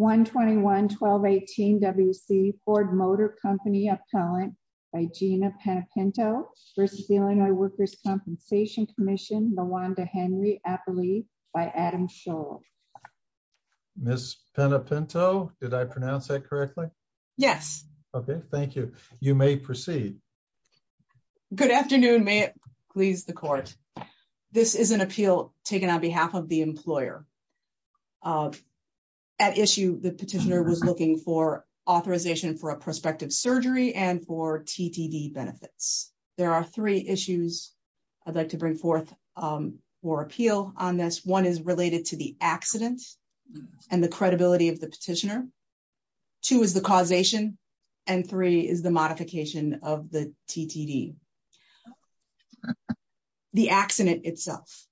121-1218-WC Ford Motor Company Appellant by Gina Penapinto v. Illinois Workers' Compensation Comm'n Nawanda Henry Appellee by Adam Scholl. Ms. Penapinto, did I pronounce that correctly? Yes. Okay, thank you. You may proceed. Good afternoon, may it please the court. This is an appeal taken on behalf of the employer. At issue, the petitioner was looking for authorization for a prospective surgery and for TTD benefits. There are three issues I'd like to bring forth for appeal on this. One is related to the accident and the credibility of the petitioner. Two is the causation and three is the modification of the TTD. The accident itself,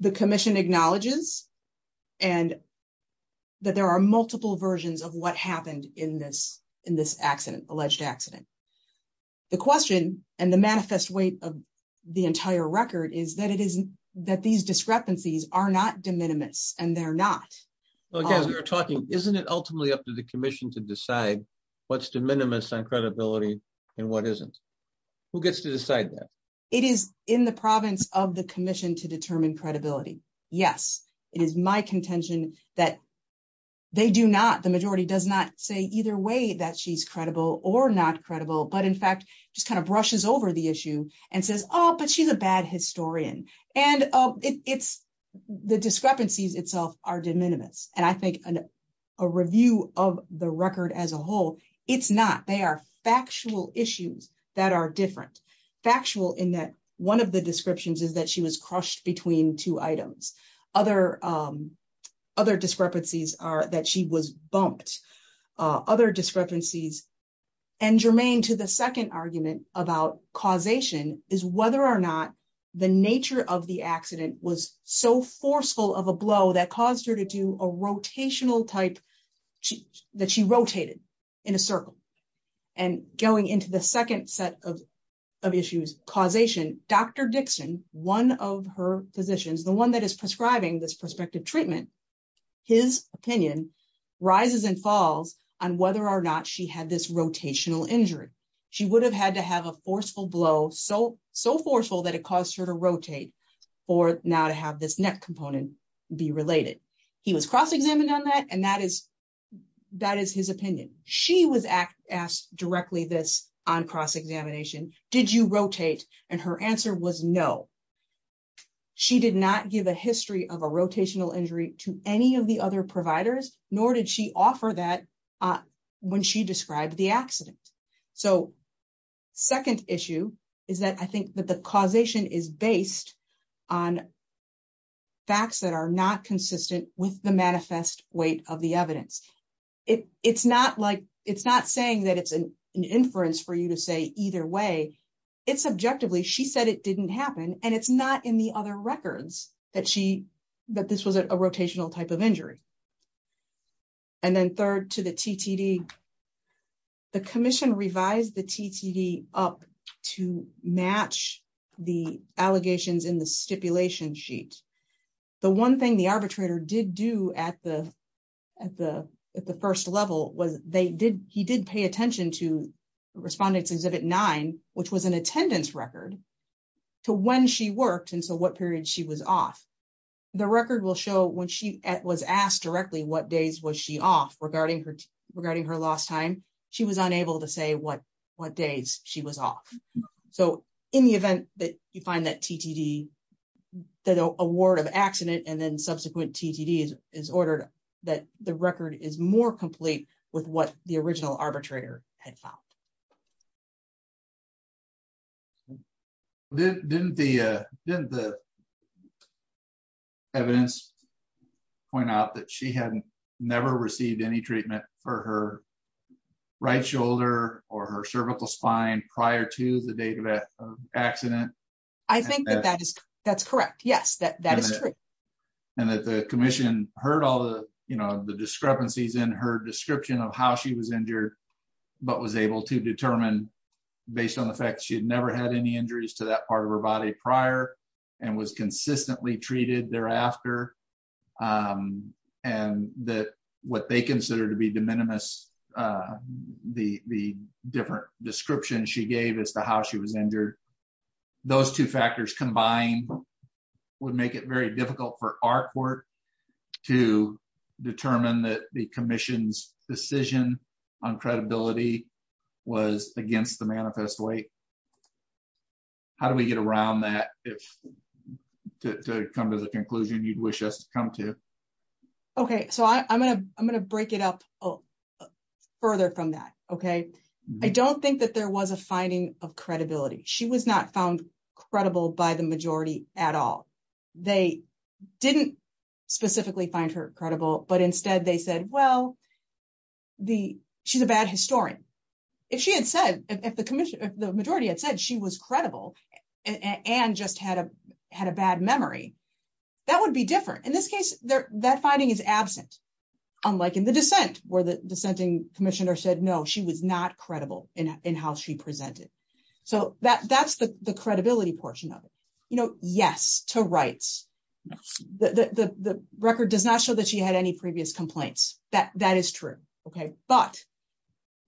the commission acknowledges and that there are multiple versions of what happened in this alleged accident. The question and the manifest weight of the entire record is that these discrepancies are not de minimis and they're not. Well, again, we're talking, isn't it ultimately up to the commission to decide what's de minimis on credibility and what isn't? Who gets to decide that? It is in the province of the commission to determine credibility. Yes, it is my contention that they do not, the majority does not say either way that she's credible or not credible, but in fact, just kind of brushes over the issue and says, oh, but she's a bad historian. And the discrepancies itself are de minimis. And I think a review of the record as a whole, it's not. They are factual issues that are different. Factual in that one of the descriptions is that she was crushed between two items. Other discrepancies are that she was bumped. Other discrepancies and germane to the second argument about causation is whether or not the nature of the accident was so forceful of a blow that caused her to do a rotational type that she rotated in a circle. And going into the second set of issues, causation, Dr. Dixon, one of her physicians, the one that is prescribing this prospective treatment, his opinion rises and falls on whether or not she had this rotational injury. She would have to have a forceful blow, so forceful that it caused her to rotate for now to have this neck component be related. He was cross-examined on that, and that is his opinion. She was asked directly this on cross-examination, did you rotate? And her answer was no. She did not give a history of a rotational injury to any of the other providers, nor did she offer that when she described the accident. So second issue is that I think that the causation is based on facts that are not consistent with the manifest weight of the evidence. It is not saying that it is an inference for you to say either way. It is objectively, she said it did not happen, and it is not in the other records that this was a rotational type of injury. And then third to the TTD, the commission revised the TTD up to match the allegations in the stipulation sheet. The one thing the arbitrator did do at the first level was he did pay attention to Respondent's Exhibit 9, which was an attendance record to when she worked and so what period she was off. The record will show when she was asked directly what days was she off regarding her lost time, she was unable to say what days she was off. So in the event that you find that TTD, that award of accident and then subsequent TTD is ordered, that the record is more complete with what the original arbitrator had found. Didn't the evidence point out that she had never received any treatment for her right shoulder or her cervical spine prior to the date of accident? I think that is correct. Yes, that is true. And that the commission heard all the discrepancies in her description of how she was injured, but was able to determine based on the fact she had never had any injuries to that part of her body prior and was consistently treated thereafter. And that what they consider to be de minimis, the different description she gave as to how she was injured, those two factors combined would make it very difficult for our court to determine that the commission's decision on credibility was against the manifest way. How do we get around that to come to the conclusion you'd wish us to come to? Okay, so I'm going to break it up further from that, okay? I don't that there was a finding of credibility. She was not found credible by the majority at all. They didn't specifically find her credible, but instead they said, well, she's a bad historian. If she had said, if the majority had said she was credible and just had a bad memory, that would be different. In this case, that finding is absent, unlike in the dissent where the dissenting commissioner said, no, she was not credible in how she presented. So that's the credibility portion of it. Yes, to rights, the record does not show that she had any previous complaints, that is true, okay? But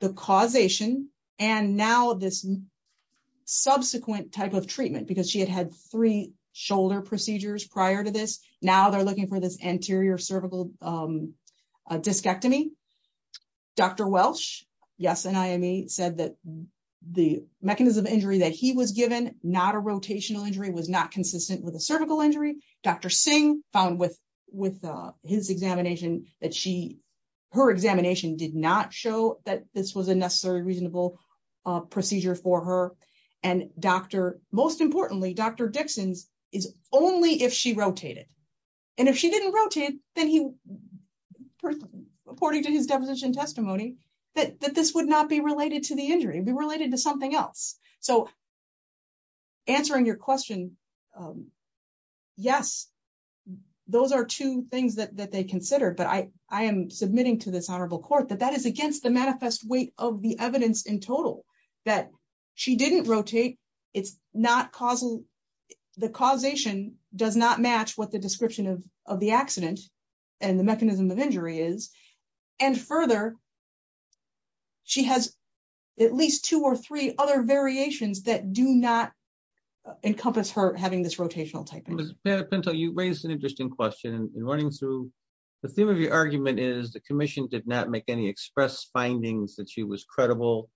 the causation and now this subsequent type of treatment, because she had had three shoulder procedures prior to this, now they're looking for this anterior cervical discectomy. Dr. Welsh, yes, NIME said that the mechanism of injury that he was given, not a rotational injury, was not consistent with a cervical injury. Dr. Singh found with his examination that she, her examination did not show that this was a necessarily reasonable procedure for her. And Dr., most importantly, Dr. Dixon's is only if she rotated. And if she didn't rotate, then he, according to his deposition testimony, that this would not be related to the injury, it'd be related to something else. So answering your question, yes, those are two things that they considered, but I am submitting to this honorable court that that is against the manifest weight of the evidence in total, that she didn't rotate, it's not causal, the causation does not match what the description of the accident and the mechanism of injury is. And further, she has at least two or three other variations that do not encompass her having this rotational type. Ms. Pinto, you raised an interesting question in running through. The theme of express findings that she was credible,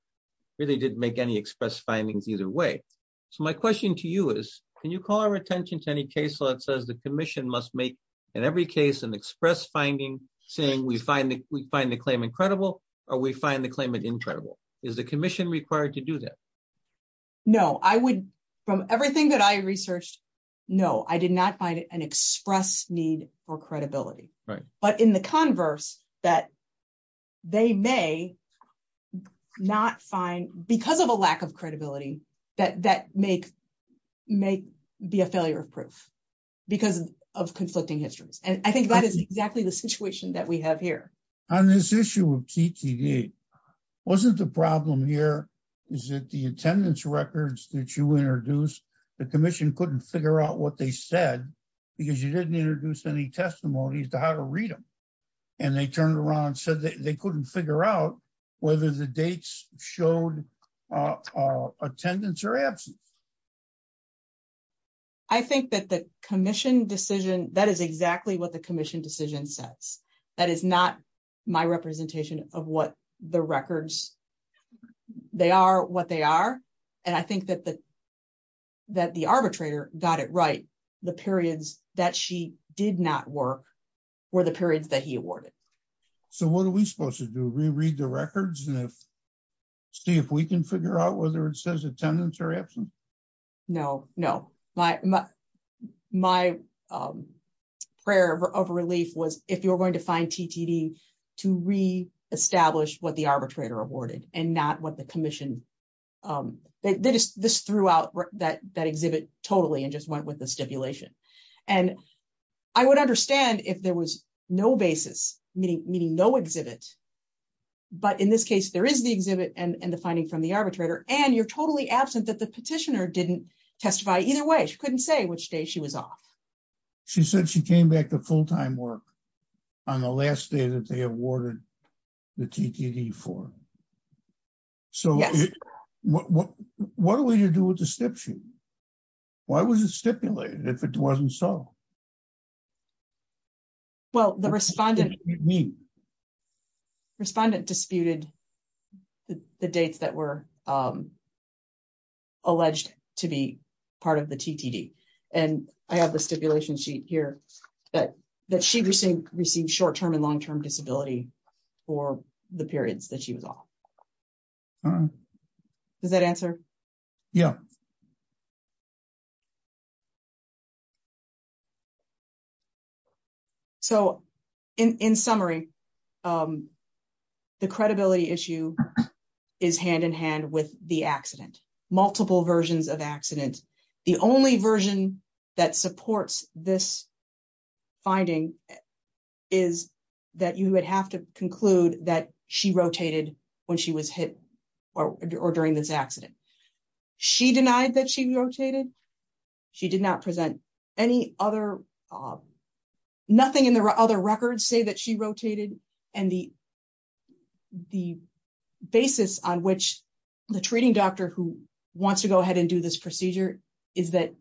really didn't make any express findings either way. So my question to you is, can you call our attention to any case law that says the commission must make, in every case, an express finding saying we find the claim incredible, or we find the claimant incredible? Is the commission required to do that? No, I would, from everything that I they may not find, because of a lack of credibility, that may be a failure of proof, because of conflicting histories. And I think that is exactly the situation that we have here. On this issue of TTD, wasn't the problem here is that the attendance records that you introduced, the commission couldn't figure out what they said, because you didn't introduce any testimonies to read them. And they turned around and said they couldn't figure out whether the dates showed attendance or absence. I think that the commission decision, that is exactly what the commission decision says. That is not my representation of what the records, they are what they are. And I think that the arbitrator got it right. The periods that she did not work were the periods that he awarded. So what are we supposed to do? Reread the records and see if we can figure out whether it says attendance or absence? No, no. My prayer of relief was if you're going to find TTD, to reestablish what the arbitrator awarded and not what the commission. This threw out that exhibit totally and just went with the stipulation. And I would understand if there was no basis, meaning no exhibit. But in this case, there is the exhibit and the finding from the arbitrator. And you're totally absent that the petitioner didn't testify either way. She couldn't say which day she was off. She said she came back to full time work on the last day that they awarded the TTD for. So what are we to do with the stipulation? Why was it stipulated if it wasn't so? Well, the respondent. Respondent disputed the dates that were alleged to be part of the TTD. And I have the stipulation sheet here that she received short term and long term disability for the periods that she was off. Does that answer? Yeah. So in summary, the credibility issue is hand in hand with the accident, multiple versions of accident. The only version that supports this finding is that you would have to conclude that she rotated when she was hit or during this accident. She denied that she rotated. She did not present any other, nothing in the other records say that she rotated. And the basis on which the treating doctor who wants to go ahead and do this procedure is that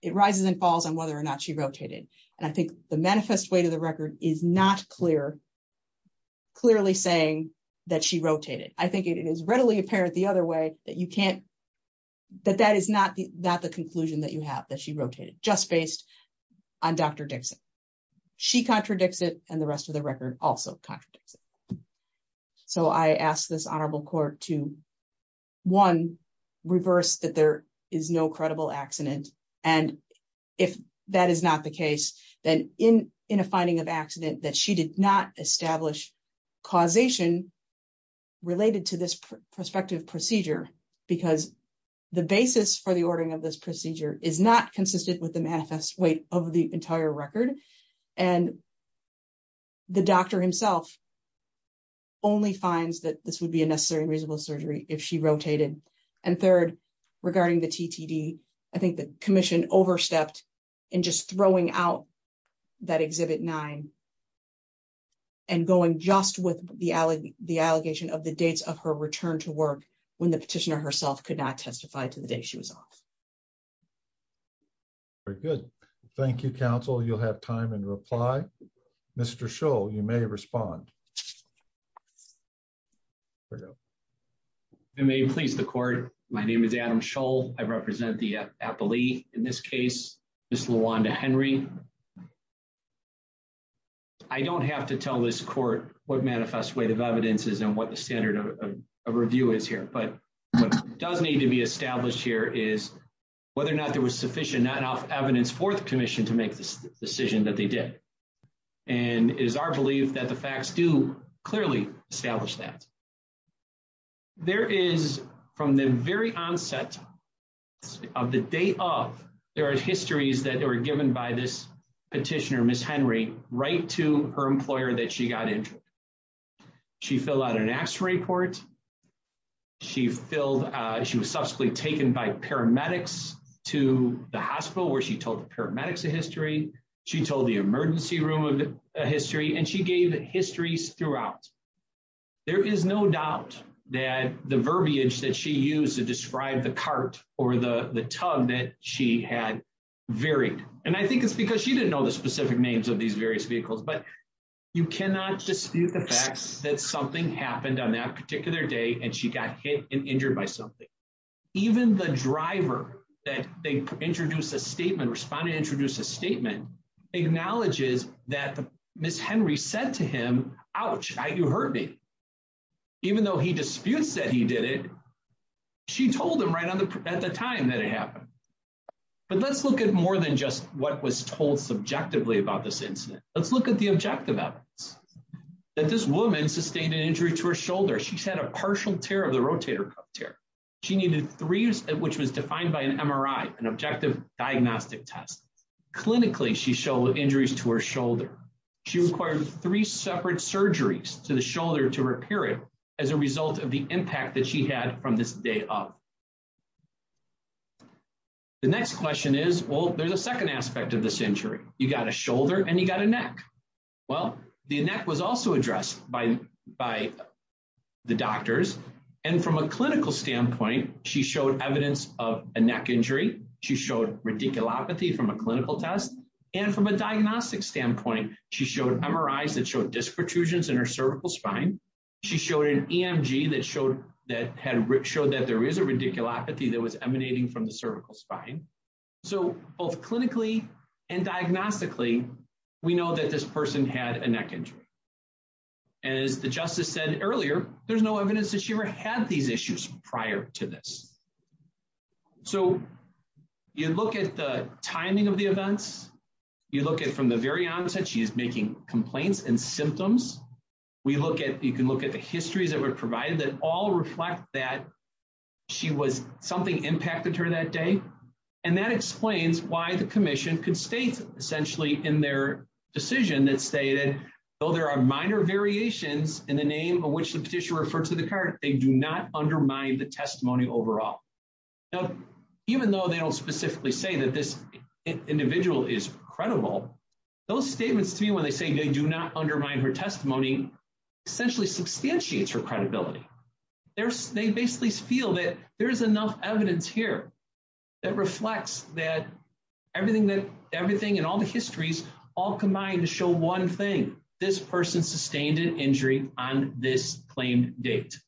it rises and falls on whether or not she rotated. And I think the manifest way to the record is not clear, clearly saying that she rotated. I think it is readily apparent the other way that you can't, that that is not the conclusion that you have, that she rotated, just based on Dr. Dixon. She contradicts it and the rest of the record also contradicts it. So I asked this honorable court to, one, reverse that there is no credible accident. And if that is not the case, then in a finding of accident that she did not establish causation related to this prospective procedure, because the basis for the ordering of this procedure is not consistent with the manifest weight of the entire record. And the doctor himself only finds that this would be a necessary and reasonable surgery if she rotated. And third, regarding the TTD, I think the commission overstepped in just throwing out that Exhibit 9 and going just with the allegation of the dates of her return to work when the petitioner herself could not testify to the day she was off. Very good. Thank you, counsel. You'll have time in reply. Mr. Scholl, you may respond. I may please the court. My name is Adam Scholl. I represent the appellee in this case, Ms. LaWanda Henry. I don't have to tell this court what manifest weight of evidence is and what the standard of review is here. But what does need to be established here is whether or not there was sufficient enough evidence for the commission to make the decision that they did. And it is our belief that the facts do clearly establish that. There is, from the very onset of the day of, there are histories that are given by this petitioner, Ms. Henry, right to her employer that she got injured. She filled out an X-ray report. She was subsequently taken by the emergency room of history and she gave histories throughout. There is no doubt that the verbiage that she used to describe the cart or the tug that she had varied. And I think it's because she didn't know the specific names of these various vehicles. But you cannot dispute the facts that something happened on that particular day and she got hit and injured by something. Even the driver that they introduced a statement, respondent introduced a statement, acknowledges that Ms. Henry said to him, ouch, you hurt me. Even though he disputes that he did it, she told him right at the time that it happened. But let's look at more than just what was told subjectively about this incident. Let's look at the objective evidence. That this woman sustained an injury to her shoulder. She's had a partial tear of the rotator cuff tear. She needed three, which was defined by an MRI, an objective diagnostic test. Clinically, she showed injuries to her shoulder. She required three separate surgeries to the shoulder to repair it as a result of the impact that she had from this day up. The next question is, well, there's a second aspect of this injury. You got a shoulder and you got a neck. Well, the neck was also addressed by the doctors. And from a clinical standpoint, she showed evidence of a neck injury. She showed radiculopathy from a clinical test. And from a diagnostic standpoint, she showed MRIs that showed disc protrusions in her cervical spine. She showed an EMG that showed that there is a radiculopathy that was emanating from the cervical spine. So both clinically and diagnostically, we know that this person had a neck injury. And as the justice said earlier, there's no evidence that she ever had these issues prior to this. So you look at the timing of the events. You look at from the very onset, she's making complaints and symptoms. We look at, you can look at the histories that were provided that all reflect that she was, something impacted her that day. And that explains why the commission constates essentially in their decision that stated, though there are minor variations in the name of which the petitioner referred to the card, they do not undermine the testimony overall. Now, even though they don't specifically say that this individual is credible, those statements to me when they say they do not undermine her testimony, essentially substantiates her credibility. They basically feel that there is enough evidence here that reflects that everything and all the histories all combined to show one thing, this person sustained an injury on this claim date.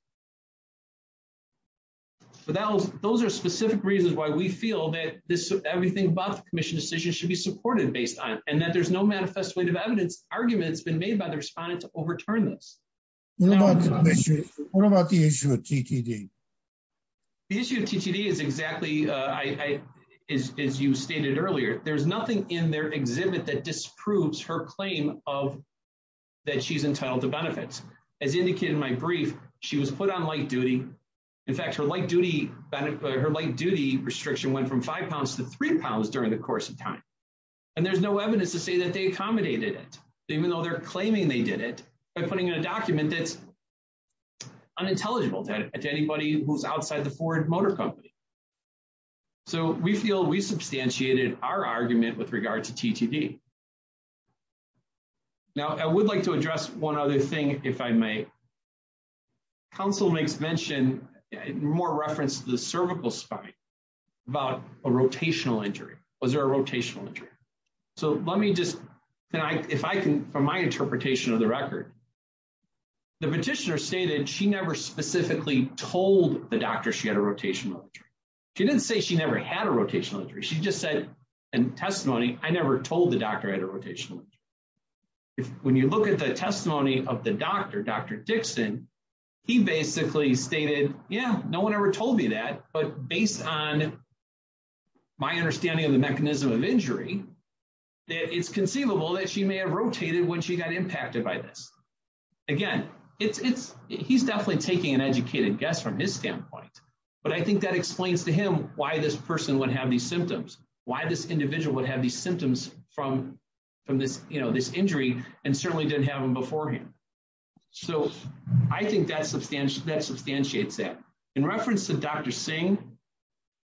But those are specific reasons why we feel that this, everything about the commission decision should be supported based on, and that there's no manifestative evidence arguments been made by the respondent to overturn this. What about the issue of TTD? The issue of TTD is exactly, as you stated earlier, there's nothing in their exhibit that disproves her claim of, that she's entitled to benefits. As indicated in my brief, she was put on light duty. In fact, her light duty restriction went from five pounds to three pounds during the course of time. And there's no evidence to say that they accommodated it, even though they're unintelligible to anybody who's outside the Ford Motor Company. So we feel we substantiated our argument with regard to TTD. Now, I would like to address one other thing, if I may. Counsel makes mention, more reference to the cervical spine, about a rotational injury. Was there a rotational injury? So let me just, if I can, from my interpretation of the record, the petitioner stated she never specifically told the doctor she had a rotational injury. She didn't say she never had a rotational injury. She just said in testimony, I never told the doctor I had a rotational injury. When you look at the testimony of the doctor, Dr. Dixon, he basically stated, yeah, no one ever told me that. But based on my understanding of the mechanism of injury, that it's conceivable that she may have rotated when she got impacted by this. Again, it's, he's definitely taking an educated guess from his standpoint. But I think that explains to him why this person would have these symptoms, why this individual would have these symptoms from this, you know, this injury, and certainly didn't have them beforehand. So I think that substantiates that. In reference to Dr. Singh,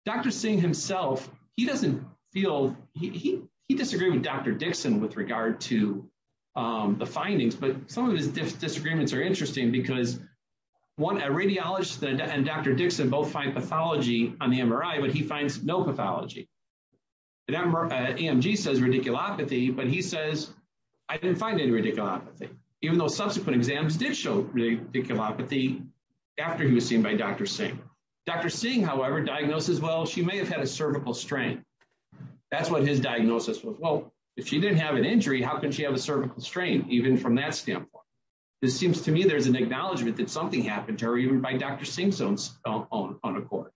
Dr. Singh himself, he doesn't feel, he disagreed with Dr. Dixon with regard to the findings. But some of his disagreements are interesting because, one, a radiologist and Dr. Dixon both find pathology on the MRI, but he finds no pathology. The EMG says radiculopathy, but he says, I didn't find any radiculopathy, even though subsequent exams did show radiculopathy after he was seen by Dr. Singh. Dr. Singh, however, diagnosed as, well, she may have had cervical strain. That's what his diagnosis was. Well, if she didn't have an injury, how could she have a cervical strain, even from that standpoint? It seems to me there's an acknowledgement that something happened to her even by Dr. Singh's own accord.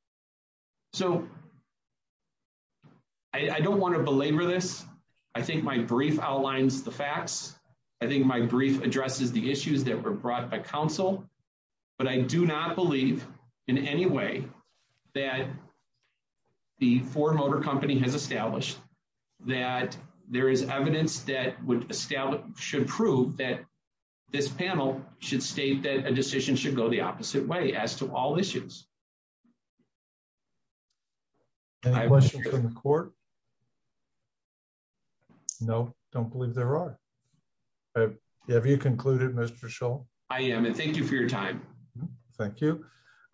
So I don't want to belabor this. I think my brief outlines the facts. I think my brief addresses the issues that were brought up by counsel. But I do not believe in any way that the Ford Motor Company has established that there is evidence that would establish, should prove that this panel should state that a decision should go the opposite way as to all issues. Any questions from the court? No, don't believe there are. Have you concluded, Mr. Shull? I am, and thank you for your time. Thank you.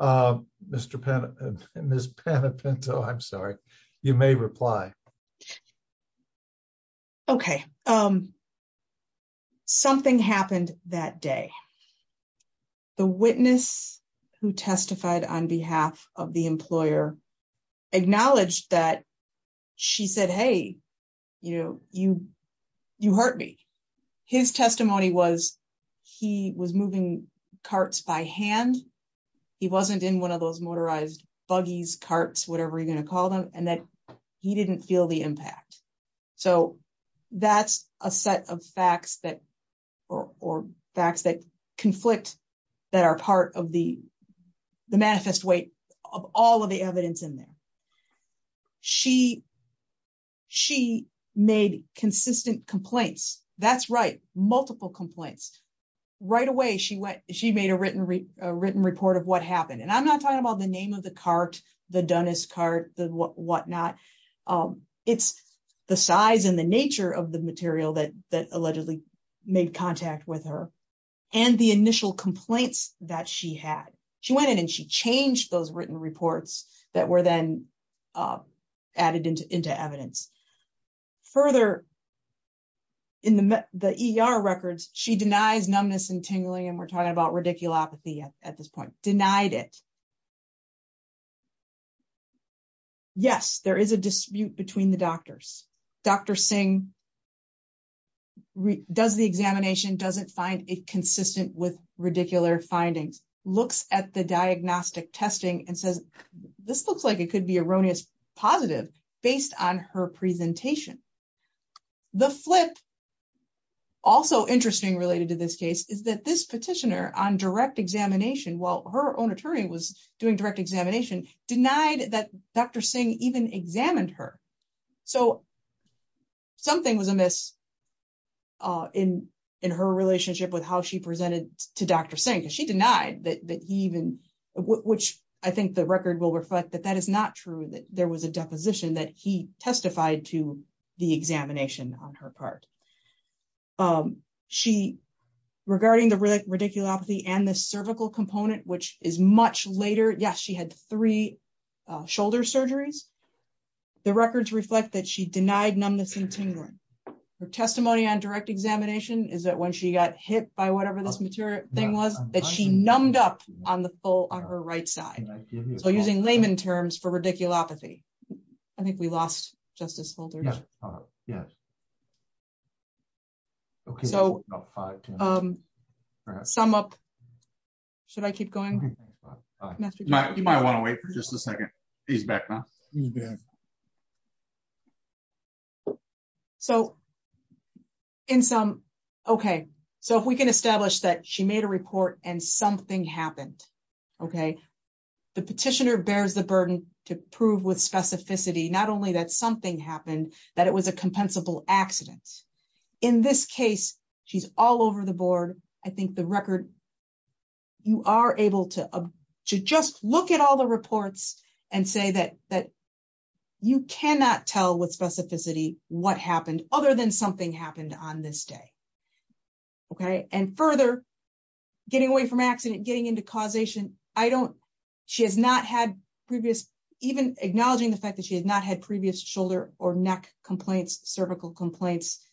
Ms. Panepinto, I'm sorry, you may reply. Okay. Something happened that day. The witness who testified on behalf of the employer acknowledged that she said, hey, you know, you hurt me. His testimony was he was moving carts by hand. He wasn't in one of those motorized buggies, carts, whatever you're going to call them, and that he didn't feel the impact. So that's a set of facts that, or facts that conflict that are part of the manifest weight of all of the evidence in there. She made consistent complaints. That's right, multiple complaints. Right away, she went, she made a written report of what happened. And I'm not talking about the name of the cart, the Dunnist cart, the whatnot. It's the size and the nature of the material that allegedly made contact with her and the initial complaints that she had. She went in and she changed those written reports that were then added into evidence. Further, in the ER records, she denies numbness and tingling, and we're talking about radiculopathy at this point. Denied it. Yes, there is a dispute between the doctors. Dr. Singh does the examination, doesn't find it consistent with radicular findings, looks at the diagnostic testing, and says, this looks like it could be erroneous positive based on her presentation. The flip, also interesting related to this case, is that this petitioner on direct examination, while her own attorney was doing direct examination, denied that Dr. Singh even examined her. So something was amiss in her relationship with how she presented to Dr. Singh. She denied that he even, which I think the record will reflect that that is not true, that there was a deposition that he testified to the examination on her part. Regarding the radiculopathy and the cervical component, which is much later, yes, she had three shoulder surgeries. The records reflect that she denied numbness and tingling. Her testimony on direct examination is that when she got hit by whatever this material thing was, that she numbed up on the full on her right side. So using layman terms for radiculopathy. I think we lost Justice Holder. Yes. Okay. So sum up. Should I keep going? You might want to wait for just a second. He's back now. He's back. So in sum, okay, so if we can establish that she made a report and something happened, okay, the petitioner bears the burden to prove with specificity, not only that something happened, that it was a compensable accident. In this case, she's all over the board. I think the record, you are able to just look at all the reports and say that you cannot tell with specificity what happened other than something happened on this day. Okay. And further, getting away from accident, getting into causation, I don't, she has not had previous, even acknowledging the fact that she had not had previous shoulder or neck complaints, cervical complaints.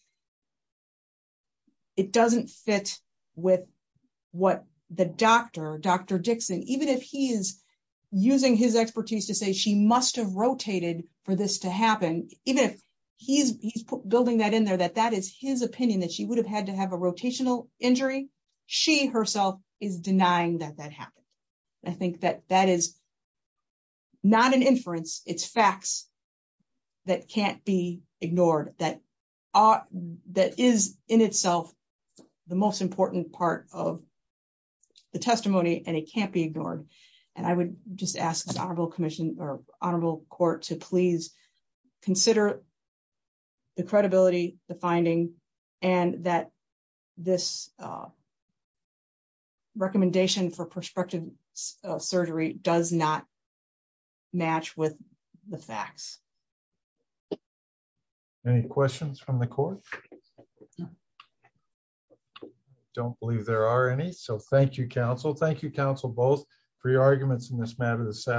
It doesn't fit with what the doctor, Dr. Dixon, even if he is using his expertise to say she must have rotated for this to happen, even if he's building that in there, that that is his opinion that she would have had to have a rotational injury. She herself is denying that that happened. I think that that is not an inference. It's facts that can't be ignored, that is in itself the most important part of the testimony and it can't be ignored. And I would just ask this that this recommendation for prospective surgery does not match with the facts. Any questions from the court? Don't believe there are any. So thank you, counsel. Thank you, counsel, both for your arguments in this matter this afternoon.